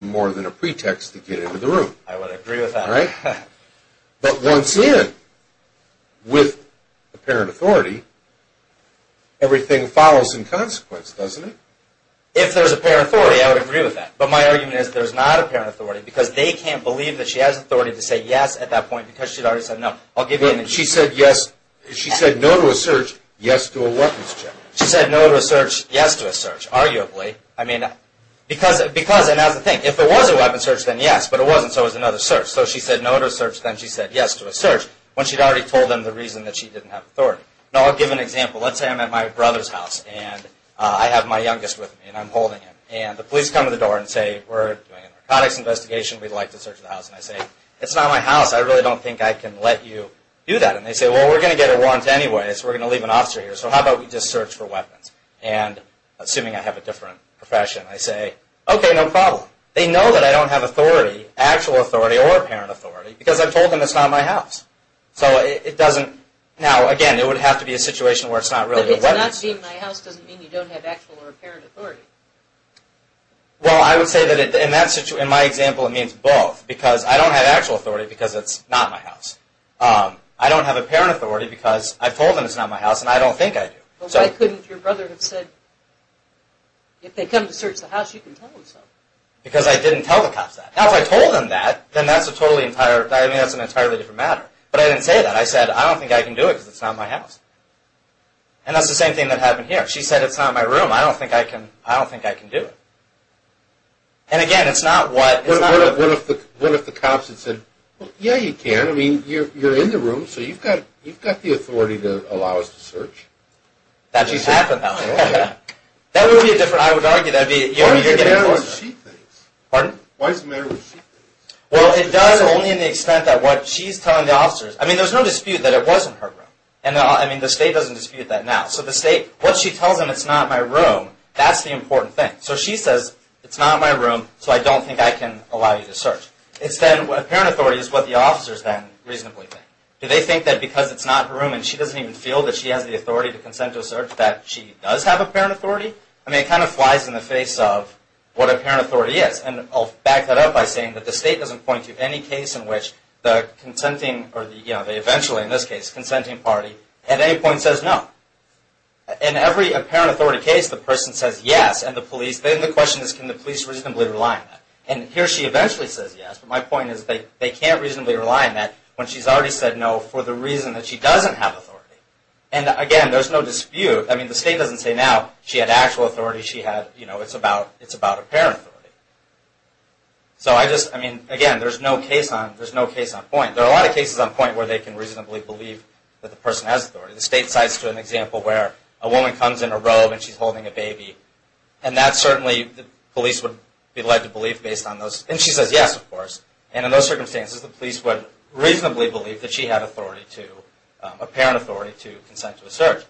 more than a pretext to get into the room. I would agree with that. But once in, with apparent authority, everything follows in consequence, doesn't it? If there's apparent authority, I would agree with that. But my argument is there's not apparent authority because they can't believe that she has authority to say yes at that point because she'd already said no. She said no to a search, yes to a weapons check. She said no to a search, yes to a search. Arguably. I mean, because, and that's the thing. If it was a weapons search, then yes. But it wasn't, so it was another search. So she said no to a search, then she said yes to a search. When she'd already told them the reason that she didn't have authority. Now I'll give an example. Let's say I'm at my brother's house, and I have my youngest with me, and I'm holding him. And the police come to the door and say, we're doing a narcotics investigation. We'd like to search the house. And I say, it's not my house. I really don't think I can let you do that. And they say, well, we're going to get a warrant anyway, so we're going to leave an officer here. So how about we just search for weapons? And, assuming I have a different profession, I say, okay, no problem. They know that I don't have authority, actual authority or apparent authority, because I've told them it's not my house. So it doesn't, now again, it would have to be a situation where it's not really weapons. But it's not being my house doesn't mean you don't have actual or apparent authority. Well, I would say that in that situation, in my example, it means both. Because I don't have actual authority because it's not my house. I don't have apparent authority because I've told them it's not my house, and I don't think I do. Why couldn't your brother have said, if they come to search the house, you can tell them so? Because I didn't tell the cops that. Now, if I told them that, then that's an entirely different matter. But I didn't say that. I said, I don't think I can do it because it's not my house. And that's the same thing that happened here. She said, it's not my room. I don't think I can do it. And again, it's not what... What if the cops had said, yeah, you can. I mean, you're in the room, so you've got the authority to allow us to search. That would happen, though. That would be a different... I would argue that would be... Why does it matter what she thinks? Pardon? Why does it matter what she thinks? Well, it does only in the extent that what she's telling the officers... I mean, there's no dispute that it was in her room. I mean, the state doesn't dispute that now. So the state... What she tells them, it's not my room, that's the important thing. So she says, it's not my room, so I don't think I can allow you to search. It's then... Apparent authority is what the officers then reasonably think. Do they think that because it's not her room, and she doesn't even feel that she has the authority to consent to a search, that she does have apparent authority? I mean, it kind of flies in the face of what apparent authority is. And I'll back that up by saying that the state doesn't point to any case in which the consenting, or the eventually, in this case, consenting party, at any point says no. In every apparent authority case, the person says yes, and the police... Then the question is, can the police reasonably rely on that? And here she eventually says yes, but my point is they can't reasonably rely on that when she's already said no for the reason that she doesn't have authority. And again, there's no dispute. I mean, the state doesn't say now she had actual authority. It's about apparent authority. So I just... I mean, again, there's no case on point. There are a lot of cases on point where they can reasonably believe that the person has authority. The state cites an example where a woman comes in a robe, and she's holding a baby. And that certainly, the police would be led to believe based on those... And she says yes, of course. And in those circumstances, the police would reasonably believe that she had authority to... apparent authority to consent to a search.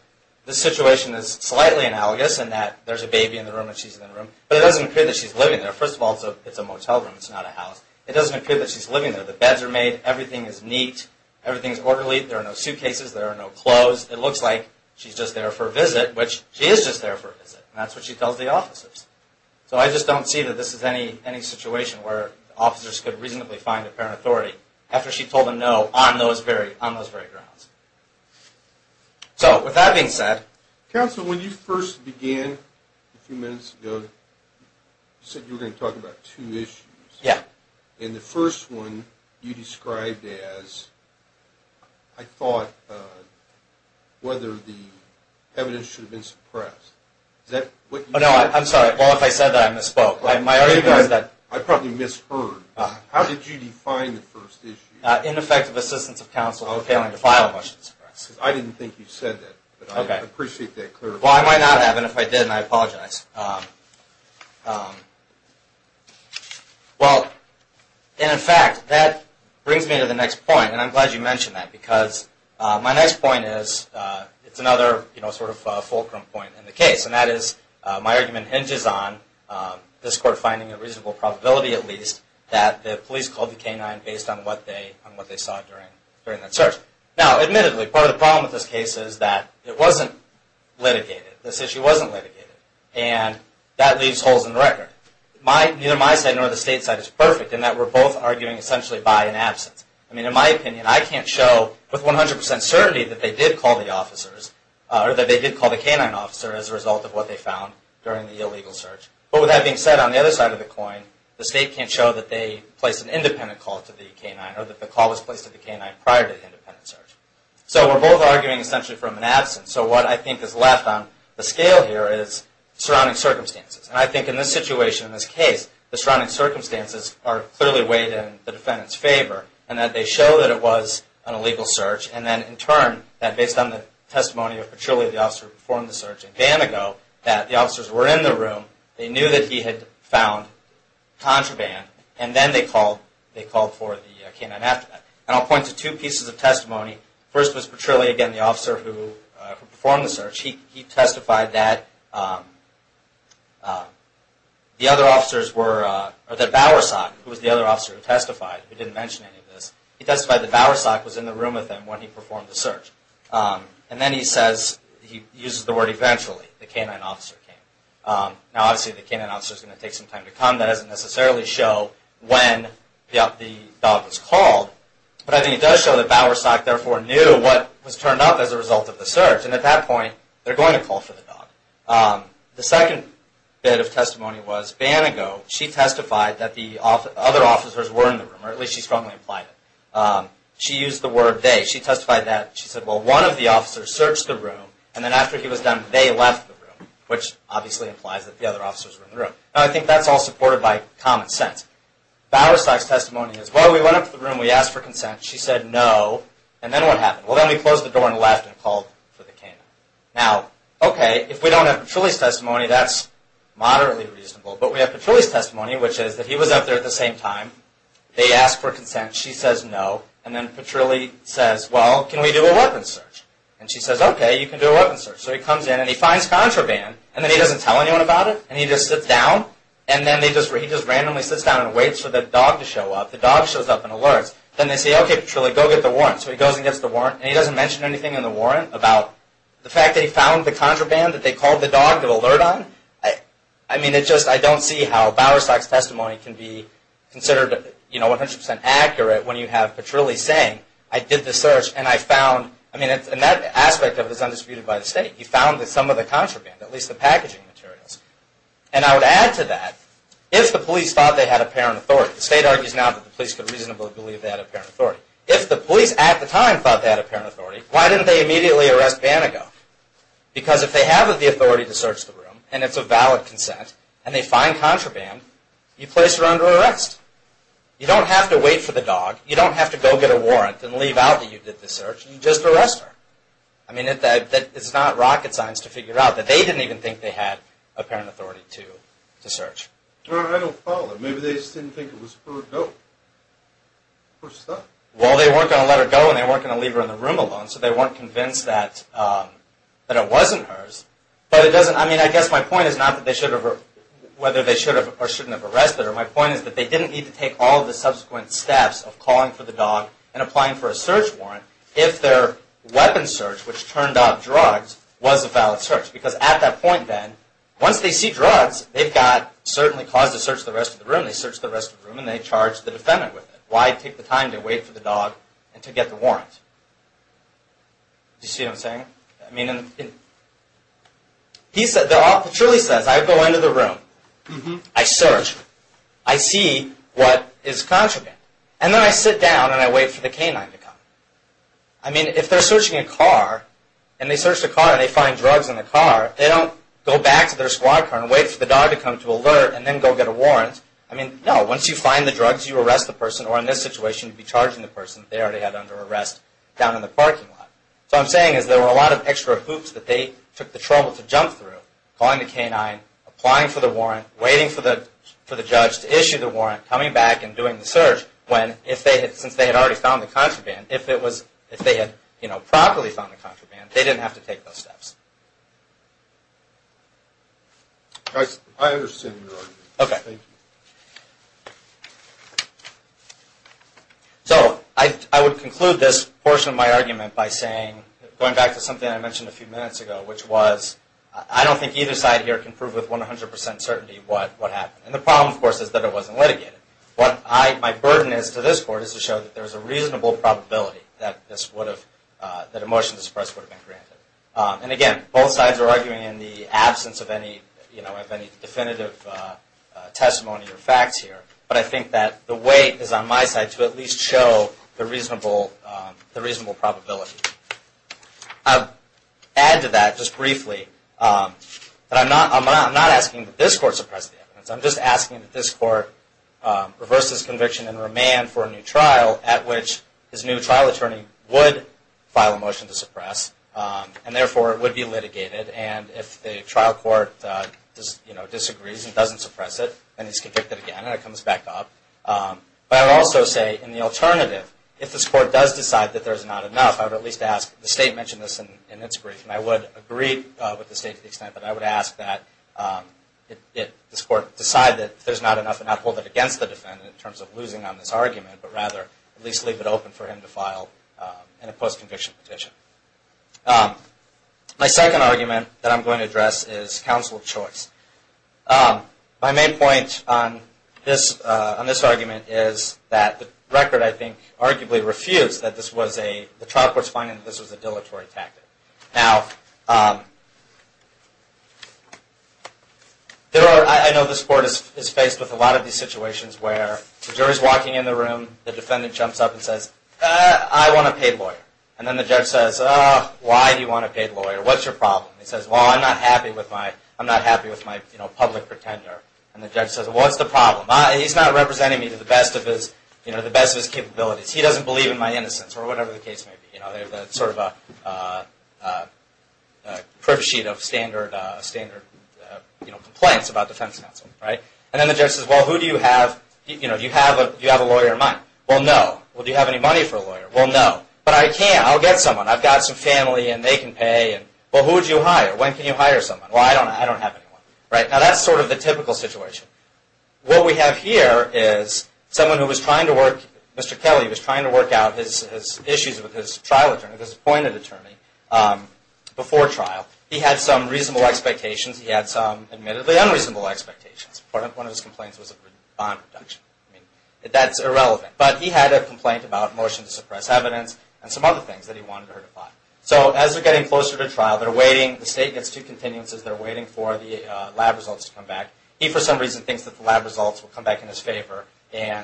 This situation is slightly analogous in that there's a baby in the room, and she's in the room. But it doesn't appear that she's living there. First of all, it's a motel room. It's not a house. It doesn't appear that she's living there. The beds are made. Everything is neat. Everything is orderly. There are no suitcases. There are no clothes. It looks like she's just there for a visit, which she is just there for a visit. And that's what she tells the officers. So I just don't see that this is any situation where officers could reasonably find apparent authority after she told them no on those very grounds. So, with that being said... Counsel, when you first began a few minutes ago, you said you were going to talk about two issues. Yeah. And the first one you described as... I thought whether the evidence should have been spoke. I probably misheard. How did you define the first issue? Ineffective assistance of counsel in failing to file a motion to suppress. I didn't think you said that, but I appreciate that clarification. Well, I might not have and if I did, I apologize. Well, and in fact, that brings me to the next point, and I'm glad you mentioned that, because my next point is it's another sort of fulcrum point in the case, and that is my argument hinges on this Court finding a reasonable probability at least that the police called the K-9 based on what they saw during that search. Now, admittedly, part of the problem with this case is that it wasn't litigated. This issue wasn't litigated. And that leaves holes in the record. Neither my side nor the State's side is perfect in that we're both arguing essentially by an absence. I mean, in my opinion, I can't show with 100% certainty that they did call the officers, or that they did call the K-9 officer as a result of what they found during the illegal search. But with that being said, on the other side of the coin, the State can't show that they placed an independent call to the K-9, or that the call was placed to the K-9 prior to the independent search. So we're both arguing essentially from an absence. So what I think is left on the scale here is surrounding circumstances. And I think in this situation, in this case, the surrounding circumstances are clearly weighed in the defendant's favor, and that they show that it was an illegal search, and then in turn, that based on the testimony of Petrilli, the officer who performed the search, a day and ago, that the officers were in the room, they knew that he had found contraband, and then they called for the K-9 after that. And I'll point to two pieces of testimony. First was Petrilli, again, the officer who performed the search. He testified that the other officers were, or that Bowersock, who was the other officer who testified, who didn't mention any of this, he testified that Bowersock was in the room with him when he performed the search. And then he says, he uses the word eventually, the K-9 officer came. Now obviously the K-9 officer is going to take some time to come. That doesn't necessarily show when the dog was called. But I think it does show that Bowersock therefore knew what was turned up as a result of the search. And at that point, they're going to call for the dog. The second bit of testimony was Banago. She testified that the other officers were in the room, or at least she strongly implied it. She used the word they. She testified that, she said, well, one of the officers searched the room, and then after he was done, they left the room, which obviously implies that the other officers were in the room. Now I think that's all supported by common sense. Bowersock's testimony is, well, we went up to the room, we asked for consent, she said no, and then what happened? Well, then we closed the door and left and called for the K-9. Now, okay, if we don't have Petrilli's testimony, that's moderately reasonable. But we have Petrilli's testimony, which is that he was up there at the same time, they asked for consent, she says no, and then Petrilli says, well, can we do a weapons search? And she says, okay, you can do a weapons search. So he comes in and he finds contraband, and then he doesn't tell anyone about it, and he just sits down, and then he just randomly sits down and waits for the dog to show up. The dog shows up and alerts. Then they say, okay, Petrilli, go get the warrant. So he goes and gets the warrant, and he doesn't mention anything in the warrant about the fact that he found the contraband that they called the dog to alert on. I mean, it's just, I don't see how Bowersock's considered 100% accurate when you have Petrilli saying, I did the search, and I found, I mean, and that aspect of it is undisputed by the state. He found some of the contraband, at least the packaging materials. And I would add to that, if the police thought they had apparent authority, the state argues now that the police could reasonably believe they had apparent authority. If the police at the time thought they had apparent authority, why didn't they immediately arrest Bannego? Because if they have the authority to search the room, and it's a valid consent, and they find contraband, you place her under arrest. You don't have to wait for the dog. You don't have to go get a warrant and leave out that you did the search. You just arrest her. I mean, it's not rocket science to figure out that they didn't even think they had apparent authority to search. Well, I don't follow. Maybe they just didn't think it was her. Well, they weren't going to let her go, and they weren't going to leave her in the room alone, so they weren't convinced that it wasn't hers. But it doesn't, I mean, I guess my point is not that they shouldn't have arrested her. My point is that they didn't need to take all of the subsequent steps of calling for the dog and applying for a search warrant if their weapon search, which turned out drugs, was a valid search. Because at that point then, once they see drugs, they've got certainly cause to search the rest of the room. They search the rest of the room, and they charge the defendant with it. Why take the time to wait for the dog and to get the warrant? Do you see what I'm saying? It truly says, I go into the room, I search, I see what is contraband, and then I sit down and I wait for the canine to come. I mean, if they're searching a car, and they search the car and they find drugs in the car, they don't go back to their squad car and wait for the dog to come to alert and then go get a warrant. I mean, no, once you find the drugs, you arrest the person, or in this situation, you'd be charging the person that they already had under arrest down in the room. There's a lot of extra hoops that they took the trouble to jump through, calling the canine, applying for the warrant, waiting for the judge to issue the warrant, coming back and doing the search, when, since they had already found the contraband, if they had properly found the contraband, they didn't have to take those steps. I understand your argument. Thank you. So, I would conclude this portion of my argument that I mentioned a few minutes ago, which was, I don't think either side here can prove with 100% certainty what happened. And the problem, of course, is that it wasn't litigated. What my burden is to this Court is to show that there's a reasonable probability that a motion to suppress would have been granted. And again, both sides are arguing in the absence of any definitive testimony or facts here, but I think that the weight is on my side to at least show the reasonable probability. I'll add to that just briefly that I'm not asking that this Court suppress the evidence. I'm just asking that this Court reverse this conviction and remand for a new trial at which this new trial attorney would file a motion to suppress, and therefore it would be litigated. And if the trial court disagrees and doesn't suppress it, then he's convicted again, and it comes back up. But I would also say, in the alternative, if this Court does decide that there's not enough, I would at least ask, the State mentioned this in its brief, and I would agree with the State to the extent that I would ask that this Court decide that there's not enough and not hold it against the defendant in terms of losing on this argument, but rather at least leave it open for him to file a post-conviction petition. My second argument that I'm going to address is counsel choice. My main point on this argument is that the record, I think, arguably refused that the trial court's finding that this was a dilatory tactic. I know this Court is faced with a lot of these situations where the jury's walking in the room, the defendant jumps up and says, I want a paid lawyer. And then the judge says, why do you want a paid lawyer? What's your problem? He says, well, I'm not happy with my public pretender. And the judge says, well, what's the problem? He's not representing me to the best of his capabilities. He doesn't believe in my innocence, or whatever the case may be. They're sort of a privilege sheet of standard complaints about defense counsel. And then the judge says, well, who do you have? Do you have a lawyer of mine? Well, no. Well, do you have any money for a lawyer? Well, no. But I can. I'll get someone. I've got some family, and they can pay. Well, who would you hire? When can you hire someone? Well, I don't have anyone. Now, that's sort of the what we have here is someone who was trying to work, Mr. Kelly was trying to work out his issues with his trial attorney, his appointed attorney before trial. He had some reasonable expectations. He had some admittedly unreasonable expectations. One of his complaints was a bond reduction. I mean, that's irrelevant. But he had a complaint about a motion to suppress evidence and some other things that he wanted her to file. So, as they're getting closer to trial, they're waiting. The state gets two continuances. They're waiting for the lab results to come back. He, for some reason, thinks that the lab results will come back in his favor.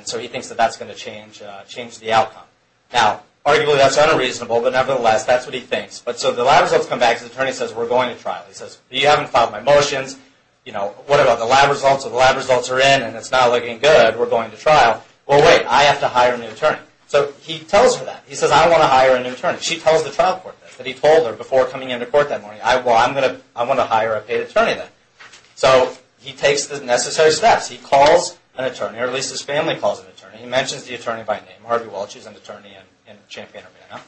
So, he thinks that that's going to change the outcome. Now, arguably, that's unreasonable, but nevertheless, that's what he thinks. So, the lab results come back. The attorney says, we're going to trial. He says, you haven't filed my motions. What about the lab results? Well, the lab results are in, and it's not looking good. We're going to trial. Well, wait. I have to hire a new attorney. So, he tells her that. He says, I want to hire a new attorney. She tells the trial court that he told her before coming into court that morning, well, I want to hire a new state attorney then. So, he takes the necessary steps. He calls an attorney, or at least his family calls an attorney. He mentions the attorney by name, Harvey Welch, who's an attorney in Champaign-Urbana.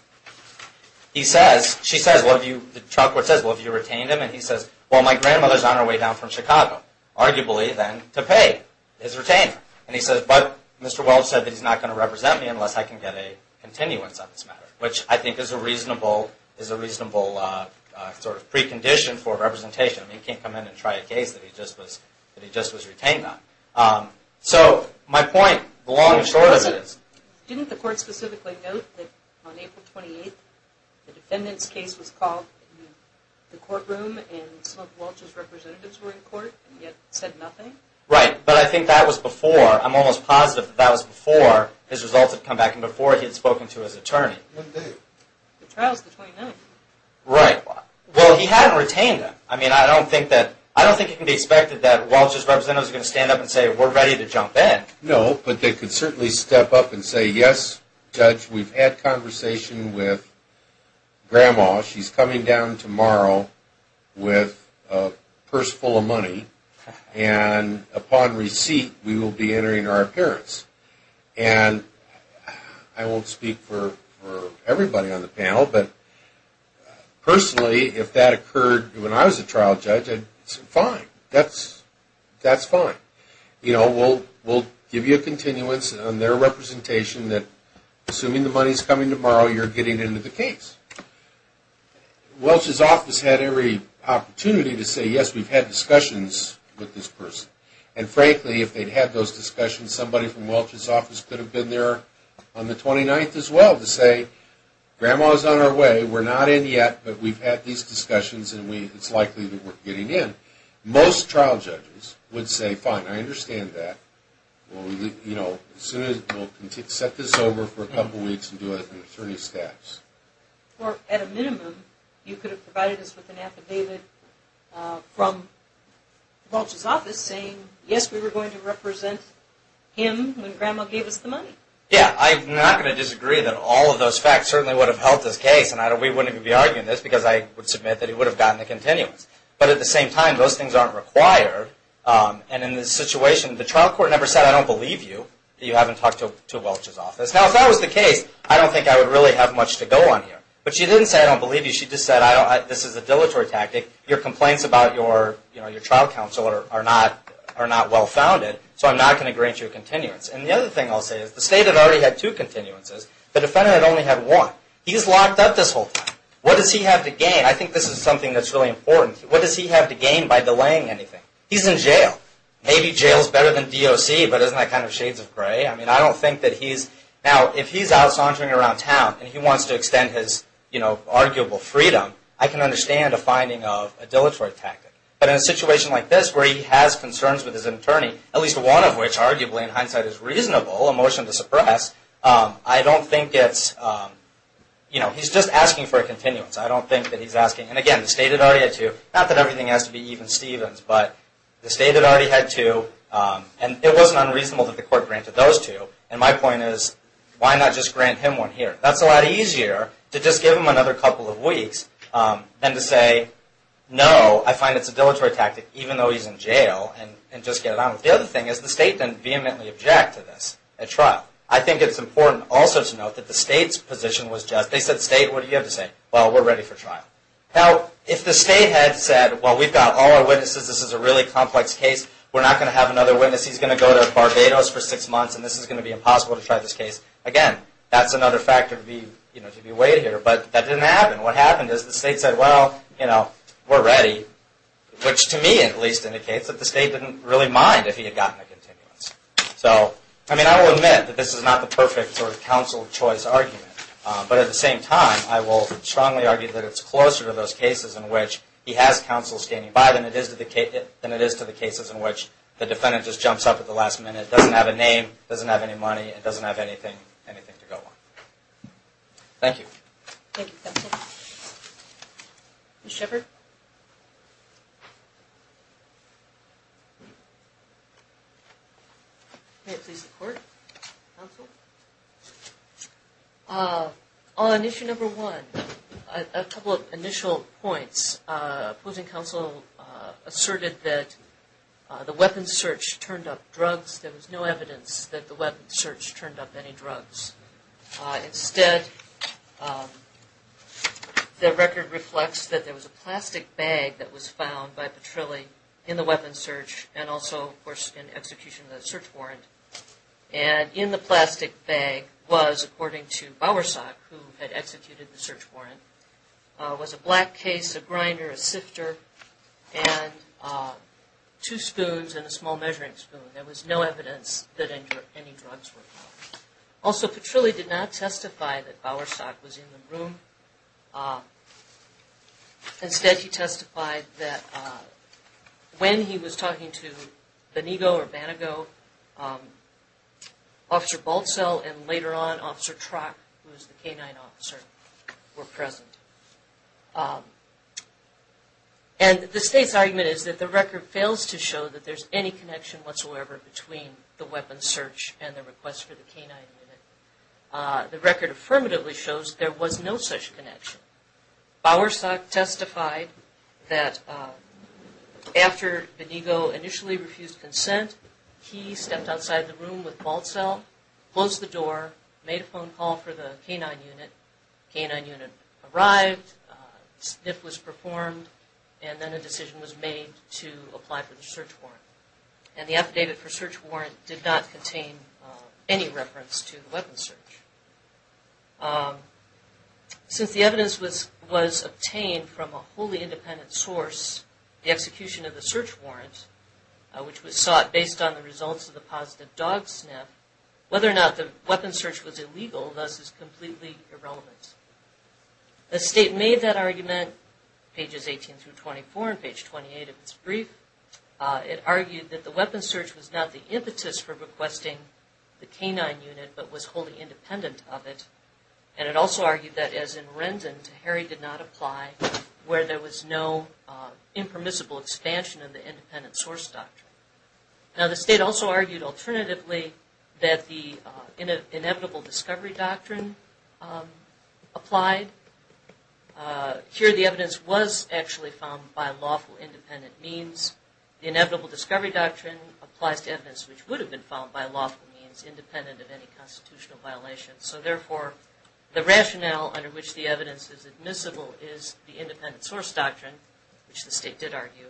He says, she says, the trial court says, well, have you retained him? And he says, well, my grandmother's on her way down from Chicago, arguably, then, to pay his retainer. And he says, but Mr. Welch said that he's not going to represent me unless I can get a continuance on this matter, which I think is a reasonable sort of precondition for representation. I mean, you can't come in and try a case that he just was retained on. So, my point, the long and short of it is... Didn't the court specifically note that on April 28th, the defendant's case was called in the courtroom, and some of Welch's representatives were in court, and yet said nothing? Right, but I think that was before. I'm almost positive that that was before his results had come back, and before he had spoken to his attorney. The trial's the 29th. Right. Well, he hadn't retained him. I mean, I don't think that, I don't think it can be expected that Welch's representatives are going to stand up and say, we're ready to jump in. No, but they could certainly step up and say, yes, Judge, we've had conversation with Grandma. She's coming down tomorrow with a purse full of money, and upon receipt, we will be entering her appearance. And I won't speak for everybody on the panel, but personally, if that occurred when I was a trial judge, I'd say, fine. That's fine. We'll give you a continuance on their representation that assuming the money's coming tomorrow, you're getting into the case. Welch's office had every opportunity to say, yes, we've had discussions with this person. And frankly, if they'd had those discussions, somebody from Welch's office could have been there on the 29th as well to say, Grandma's on her way. We're not in yet, but we've had these discussions, and it's likely that we're getting in. Most trial judges would say, fine, I understand that. We'll set this over for a couple weeks and do it in attorney's staffs. Or at a minimum, you could have provided us with an affidavit from Welch's office saying, yes, we were going to represent him when Grandma gave us the money. Yeah, I'm not going to disagree that all of those facts certainly would have helped this case. And we wouldn't even be arguing this, because I would submit that he would have gotten a continuance. But at the same time, those things aren't required. And in this situation, the trial court never said, I don't believe you, that you haven't talked to Welch's office. Now, if that was the case, I don't think I would really have much to go on here. But she didn't say, I don't believe you. She just said, this is a dilatory tactic. Your complaints about your trial counsel are not well-founded, so I'm not going to grant you a continuance. And the other thing I'll say is, the state had already had two continuances. The defendant had only had one. He's locked up this whole time. What does he have to gain? I think this is something that's really important. What does he have to gain by delaying anything? He's in jail. Maybe jail is better than DOC, but isn't that kind of shades of gray? Now, if he's out sauntering around town and he wants to extend his arguable freedom, I can understand a finding of a motion like this where he has concerns with his attorney, at least one of which arguably in hindsight is reasonable, a motion to suppress. I don't think it's you know, he's just asking for a continuance. I don't think that he's asking and again, the state had already had two. Not that everything has to be even Stevens, but the state had already had two, and it wasn't unreasonable that the court granted those two. And my point is, why not just grant him one here? That's a lot easier to just give him another couple of weeks than to say no, I find it's a dilatory tactic, even though he's in jail, and just get it on with him. The other thing is the state didn't vehemently object to this at trial. I think it's important also to note that the state's position was just, they said state, what do you have to say? Well, we're ready for trial. Now, if the state had said well, we've got all our witnesses, this is a really complex case, we're not going to have another witness he's going to go to Barbados for six months and this is going to be impossible to try this case, again, that's another factor to be weighed here, but that didn't happen. What happened is the state said, well, we're ready, which to me at least indicates that the state didn't really mind if he had gotten a continuance. I will admit that this is not the perfect counsel choice argument, but at the same time, I will strongly argue that it's closer to those cases in which he has counsel standing by than it is to the cases in which the defendant just jumps up at the last minute, doesn't have a name, doesn't have any money, and doesn't have anything to go on. Thank you. On issue number one, a couple of initial points opposing counsel asserted that the weapons search turned up drugs, there was no evidence that the weapons search turned up any drugs. Instead, the record reflects that there was a plastic bag that was found by Petrilli in the weapons search and also, of course, in execution of the search warrant, and in the plastic bag was, according to Bowersack, who had executed the search warrant, was a black case, a grinder, a sifter, and two spoons and a small measuring spoon. There was no evidence that any drugs were found. Also, Petrilli did not testify that Bowersack was in the room. Instead, he testified that when he was talking to Benigo or Banago, Officer Baltzell and later on, Officer Trock, who was the canine officer, were present. And the state's argument is that the record fails to show that there's any connection whatsoever between the weapons search and the request for the canine unit. The record affirmatively shows there was no such connection. Bowersack testified that after Benigo initially refused consent, he stepped outside the room with Baltzell, closed the door, made a phone call for the canine unit, the canine unit arrived, a sniff was performed, and then a decision was made to apply for the search warrant. And the affidavit for search warrant did not contain any reference to the weapons search. Since the evidence was obtained from a wholly independent source, the execution of the search warrant, which was sought based on the results of the positive dog sniff, whether or not the weapons search was illegal, thus, is completely irrelevant. The state made that argument, pages 18-24 and page 28 of its brief. It argued that the weapons search was not the impetus for requesting the canine unit, but was wholly independent of it. And it also argued that as in Rendon, Teheri did not apply where there was no impermissible expansion of the independent source doctrine. Now the state also argued alternatively that the inevitable discovery doctrine applied. Here the evidence was actually found by lawful independent means. The inevitable discovery doctrine applies to evidence which would have been found by lawful means independent of any constitutional violation. So therefore, the rationale under which the evidence is admissible is the independent source doctrine, which the state did argue,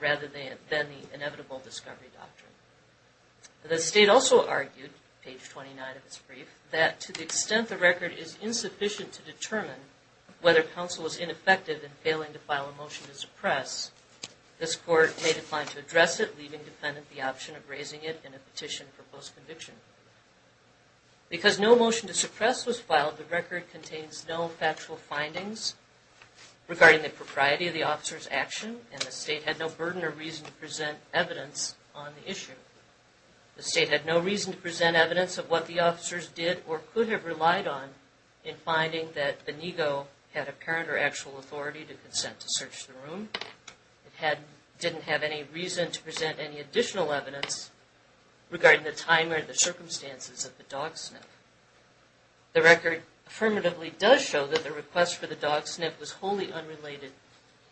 rather than the inevitable discovery doctrine. The state also argued, page 29 of its brief, that to the extent the record is insufficient to determine whether counsel was ineffective in failing to file a motion to suppress, this court may decline to address it, leaving the defendant the option of raising it in a petition for post-conviction. Because no motion to suppress was filed, the record contains no factual findings regarding the propriety of the officer's action, and the state had no burden or reason to present evidence on the issue. The state had no reason to present evidence of what the officers did or could have relied on in finding that Benigo had apparent or actual authority to consent to search the room. It didn't have any reason to present any additional evidence regarding the time or the circumstances of the dog sniff. The record affirmatively does show that the request for the dog sniff was wholly unrelated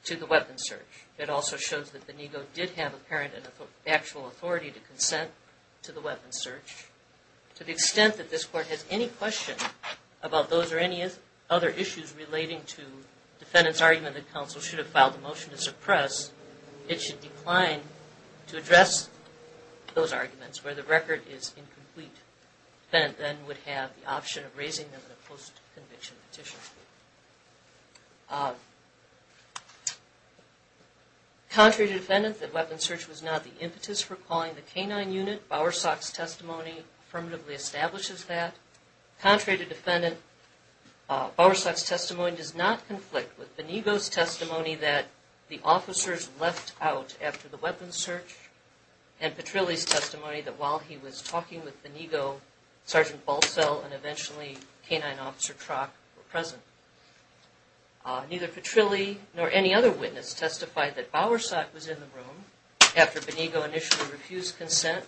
to the weapon search. It also shows that Benigo did have apparent and actual authority to consent to the weapon search. To the extent that this court has any question about those or any other issues relating to the defendant's argument that counsel should have filed a motion to suppress, it should decline to address those arguments where the record is incomplete. The defendant then would have the option of raising them in a post-conviction petition. Contrary to the defendant, the weapon search was not the impetus for calling the K-9 unit. Bowersock's testimony affirmatively establishes that. Contrary to the defendant, Bowersock's testimony does not conflict with Benigo's testimony that the officers left out after the weapon search and Petrilli's testimony that while he was talking with Benigo, Sgt. Balcell and eventually K-9 Officer Trock were present. Neither Petrilli nor any other witness testified that Bowersock was in the room and refused consent.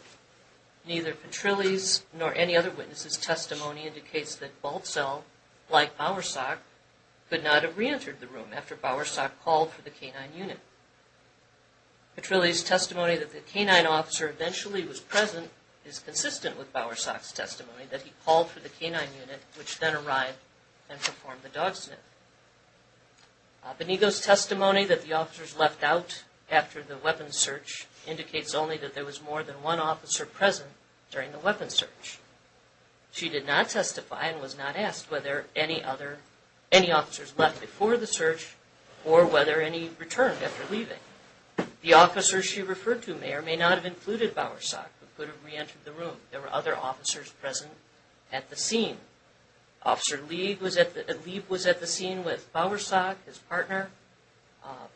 Neither Petrilli's nor any other witness's testimony indicates that Balcell, like Bowersock, could not have re-entered the room after Bowersock called for the K-9 unit. Petrilli's testimony that the K-9 officer eventually was present is consistent with Bowersock's testimony that he called for the K-9 unit which then arrived and performed the dog sniff. Benigo's testimony that the officers left out after the weapon search indicates only that there was more than one officer present during the weapon search. She did not testify and was not asked whether any officers left before the search or whether any returned after leaving. The officers she referred to may or may not have included Bowersock but could have re-entered the room. There were other officers present at the scene. Officer Lieb was at the scene with Bowersock, his partner.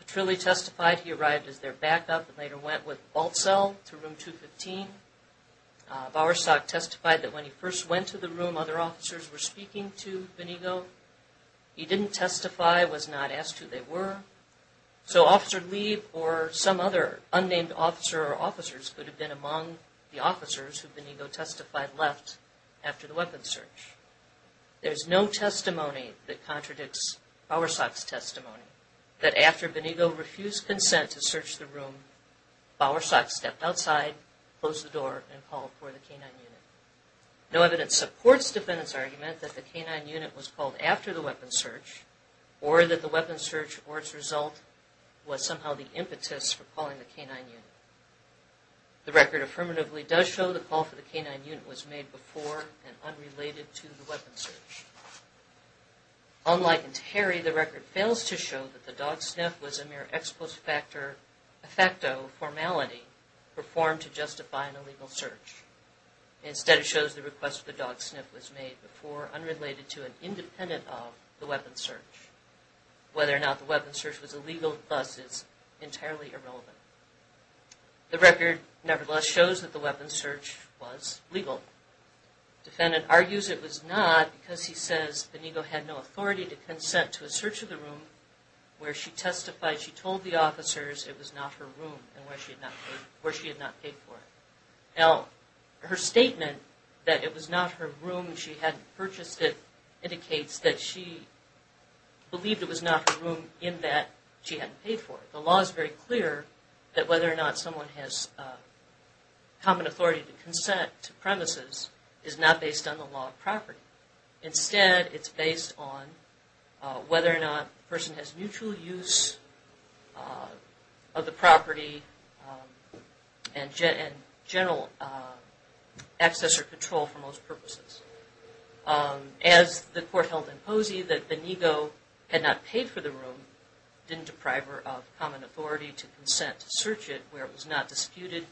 Petrilli testified he arrived as their backup and later went with Balcell to room 215. Bowersock testified that when he first went to the room other officers were speaking to Benigo. He didn't testify, was not asked who they were, so Officer Lieb or some other unnamed officer or officers could have been among the officers who Benigo testified left after the weapon search. There's no testimony that contradicts Bowersock's testimony. After Benigo refused consent to search the room, Bowersock stepped outside, closed the door, and called for the K-9 unit. No evidence supports defendant's argument that the K-9 unit was called after the weapon search or that the weapon search or its result was somehow the impetus for calling the K-9 unit. The record affirmatively does show the call for the K-9 unit was made before and unrelated to the weapon search. Unlike Terry, the record fails to show that the dog sniff was a mere ex post facto formality performed to justify an illegal search. Instead, it shows the request for the dog sniff was made before unrelated to and independent of the weapon search. Whether or not the weapon search was illegal, thus, is entirely irrelevant. The record, nevertheless, shows that the weapon search was legal. Defendant argues it was not because he says Benigo had no authority to consent to a search of the room where she testified she told the officers it was not her room and where she had not paid for it. Now, her statement that it was not her room and she hadn't purchased it indicates that she believed it was not her room in that she hadn't paid for it. The law is very clear that whether or not someone has common authority to consent to premises is not based on the law of property. Instead, it's based on whether or not a person has mutual use of the property and general access or control for most purposes. As the court held in Posey that Benigo had not paid for the room didn't deprive her of common authority to consent to search it where it was not disputed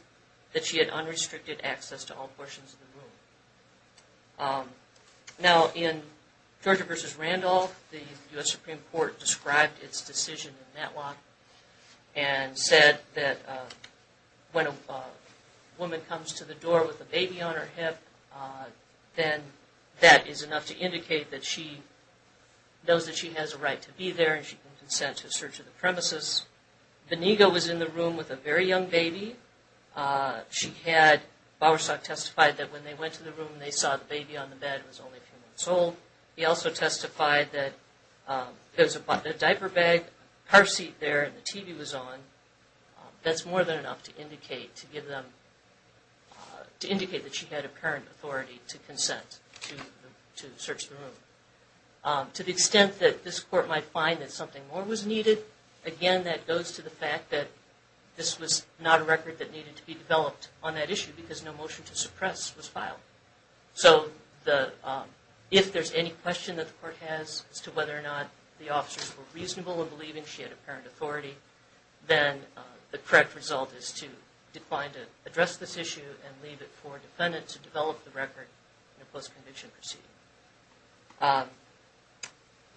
that she had unrestricted access to all portions of the room. Now, in Georgia v. Randolph, the U.S. Supreme Court described its decision in Matlock and said that when a woman comes to the door with a baby on her hip then that is enough to indicate that she knows that she has a right to be there and she can consent to a search of the premises. Benigo was in the room with a very young baby. Bowersock testified that when they went to the room they saw the baby on the bed was only a few months old. He also testified that there was a diaper bag, car seat there, and the TV was on. That's more than enough to indicate that she had apparent authority to consent to search the room. To the extent that this court might find that something more was needed, again that goes to the fact that this was not a record that needed to be developed on that issue because no motion to suppress was filed. So if there's any question that the court has as to whether or not the officers were reasonable in believing she had apparent authority, then the correct result is to decline to address this issue and leave it for a defendant to develop the record in a post-conviction proceeding.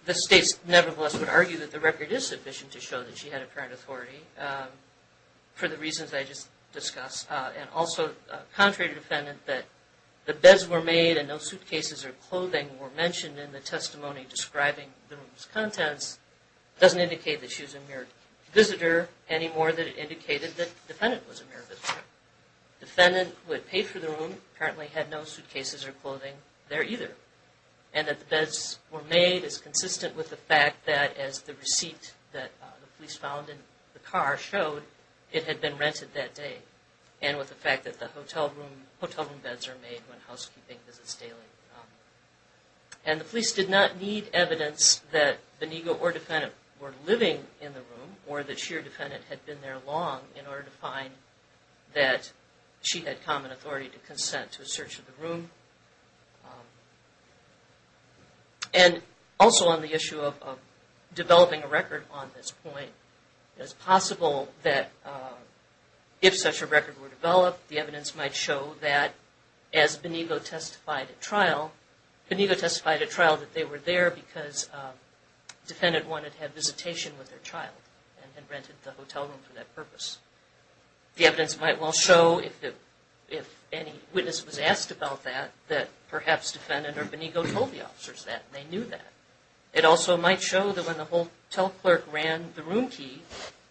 The states nevertheless would argue that the record is sufficient to show that she had apparent authority for the reasons I just discussed. And also, contrary to the defendant, that the beds were made and no suitcases or clothing were mentioned in the testimony describing the room's contents doesn't indicate that she was a mere visitor any more than it indicated that the defendant was a mere visitor. The defendant who had paid for the room apparently had no suitcases or clothing there either. And that the beds were made is consistent with the fact that as the receipt that the police found in the car showed it had been rented that day and with the fact that the hotel room beds are made when housekeeping visits daily. And the police did not need evidence that Benigo or defendant were living in the room or that she or defendant had been there long in order to find that she had common authority to consent to a search of the room. And also on the issue of developing a record on this point it is possible that if such a record were developed the evidence might show that as Benigo testified at trial Benigo testified at trial that they were there because the defendant wanted to have visitation with their child and had rented the hotel room for that purpose. The evidence might well show if any witness was asked about that that perhaps defendant or Benigo told the officers that and they knew that. It also might show that when the hotel clerk ran the room key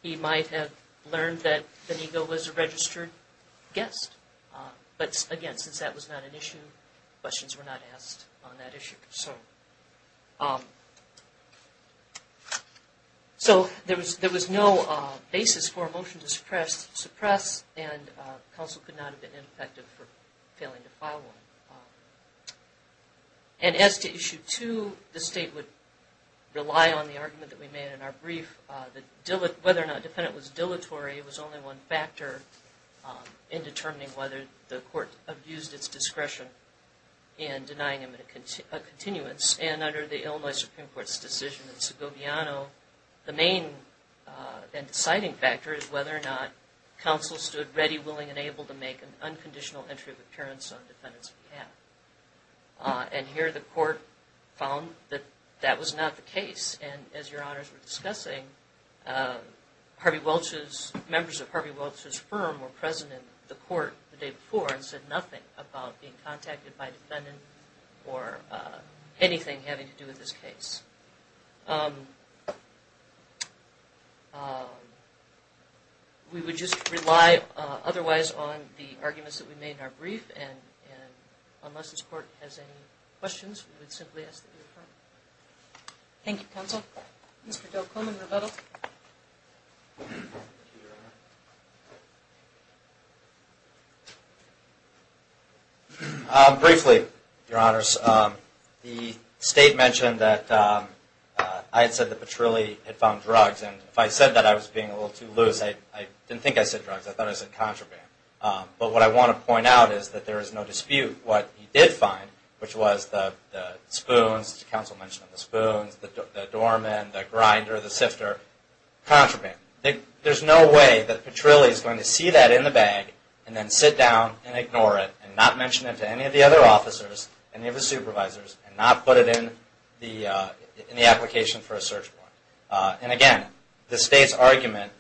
he might have learned that Benigo was a registered guest. But again, since that was not an issue, questions were not asked on that issue. So there was no basis for a motion to suppress and counsel could not have been impected for failing to follow. And as to issue two, the state would rely on the argument that we made in our brief that whether or not the defendant was dilatory was only one factor in determining whether the court abused its discretion in denying him a continuance. And under the Illinois Supreme Court's decision in Segoviano, the main and deciding factor is whether or not counsel stood ready, willing, and able to make an unconditional entry of appearance on the defendant's behalf. And here the court found that that was not the case and as your honors were discussing, Harvey Welch's, members of Harvey Welch's firm were present in the court the day before and said nothing about being contacted by a defendant or anything having to do with this case. We would just rely otherwise on the arguments that we made in our brief and unless this court has any questions, we would simply ask that they be referred. Thank you counsel. Mr. Delcomen, Rebuttal. Briefly, your honors, the state mentioned that I had said that Petrilli had found drugs and if I said that I was being a little too loose, I didn't think I said drugs, I thought I said contraband. But what I want to point out is that there is no dispute what he did find which was the spoons, counsel mentioned the spoons, the doorman, the grinder, the sifter, contraband. There's no way that Petrilli is going to see that in the bag and then sit down and ignore it and not mention it to any of the other officers, any of the supervisors and not put it in the application for a search warrant. And again, the state's argument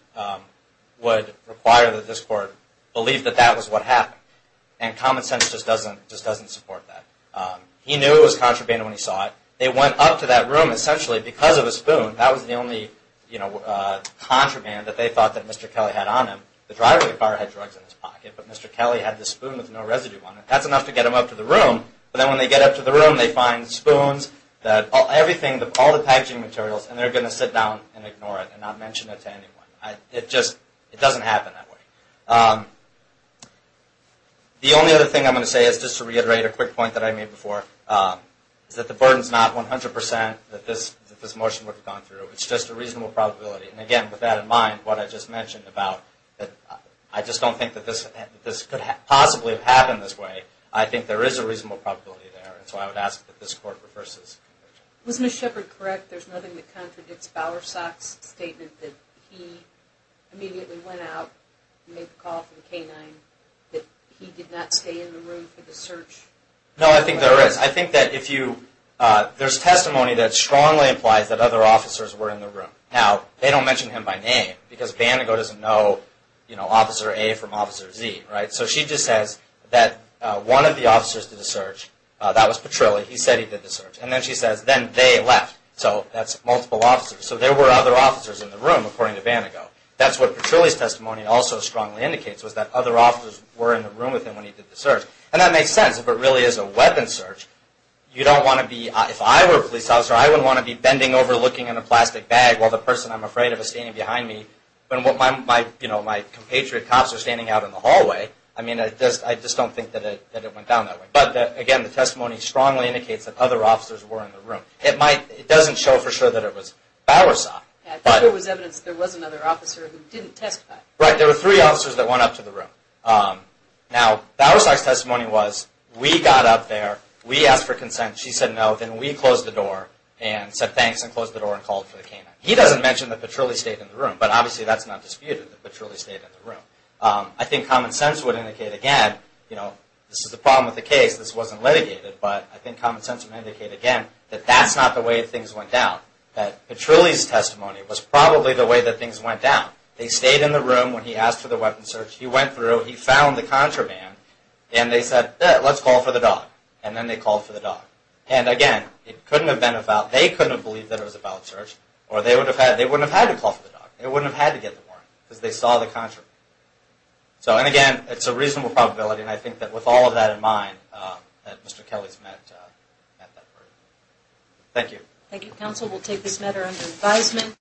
would require that this court believe that that was what happened. And common sense just doesn't support that. He knew it was contraband when he saw it. They went up to that room essentially because of a spoon. That was the only contraband that they thought that Mr. Kelly had on him. The driver of the car had drugs in his pocket, but Mr. Kelly had the spoon with no residue on it. That's enough to get him up to the crime scene. They're going to find spoons, all the packaging materials, and they're going to sit down and ignore it and not mention it to anyone. It just doesn't happen that way. The only other thing I'm going to say is just to reiterate a quick point that I made before is that the burden is not 100% that this motion would have gone through. It's just a reasonable probability. And again, with that in mind, what I just mentioned about I just don't think that this could possibly have happened this way. I think there is a reasonable probability there, and so I would ask that this Court reverse this. Was Ms. Shepard correct? There's nothing that contradicts Bowersox's statement that he immediately went out and made the call for the K-9, that he did not stay in the room for the search? No, I think there is. I think that if you, there's testimony that strongly implies that other officers were in the room. Now, they don't mention him by name because Vandego doesn't know Officer A from Officer Z. So she just says that one of the officers did the search. That was Petrilli. He said he did the search. And then she says, then they left. So that's multiple officers. So there were other officers in the room, according to Vandego. That's what Petrilli's testimony also strongly indicates, was that other officers were in the room with him when he did the search. And that makes sense. If it really is a weapons search, you don't want to be, if I were a police officer, I wouldn't want to be bending over looking in a plastic bag while the person I'm afraid of is standing behind me. When my compatriot cops are standing out in the hallway, I mean, I just don't think that it went down that way. But again, the testimony strongly indicates that other officers were in the room. It doesn't show for sure that it was Bowersox. I think there was evidence that there was another officer who didn't testify. Right, there were three officers that went up to the room. Now, Bowersox's testimony was, we got up there, we asked for consent, she said no, then we closed the door and said thanks and closed the door and called for the K-9. He doesn't mention that Petrilli stayed in the room, but obviously that's not disputed, that Petrilli stayed in the room. I think common sense would indicate again, you know, this is the problem with the case, this wasn't litigated, but I think common sense would indicate again that that's not the way things went down. That Petrilli's testimony was probably the way that things went down. They stayed in the room when he asked for the weapons search, he went through, he found the contraband, and they said, let's call for the dog. And then they called for the dog. And again, it couldn't have been about, they couldn't have believed that it was about search, or they wouldn't have had to call for the dog, they wouldn't have had to get the warrant because they saw the contraband. So, and again, it's a reasonable probability and I think that with all of that in mind, that Mr. Kelly's met that verdict. Thank you. Thank you, Counsel. We'll take this matter under advisement.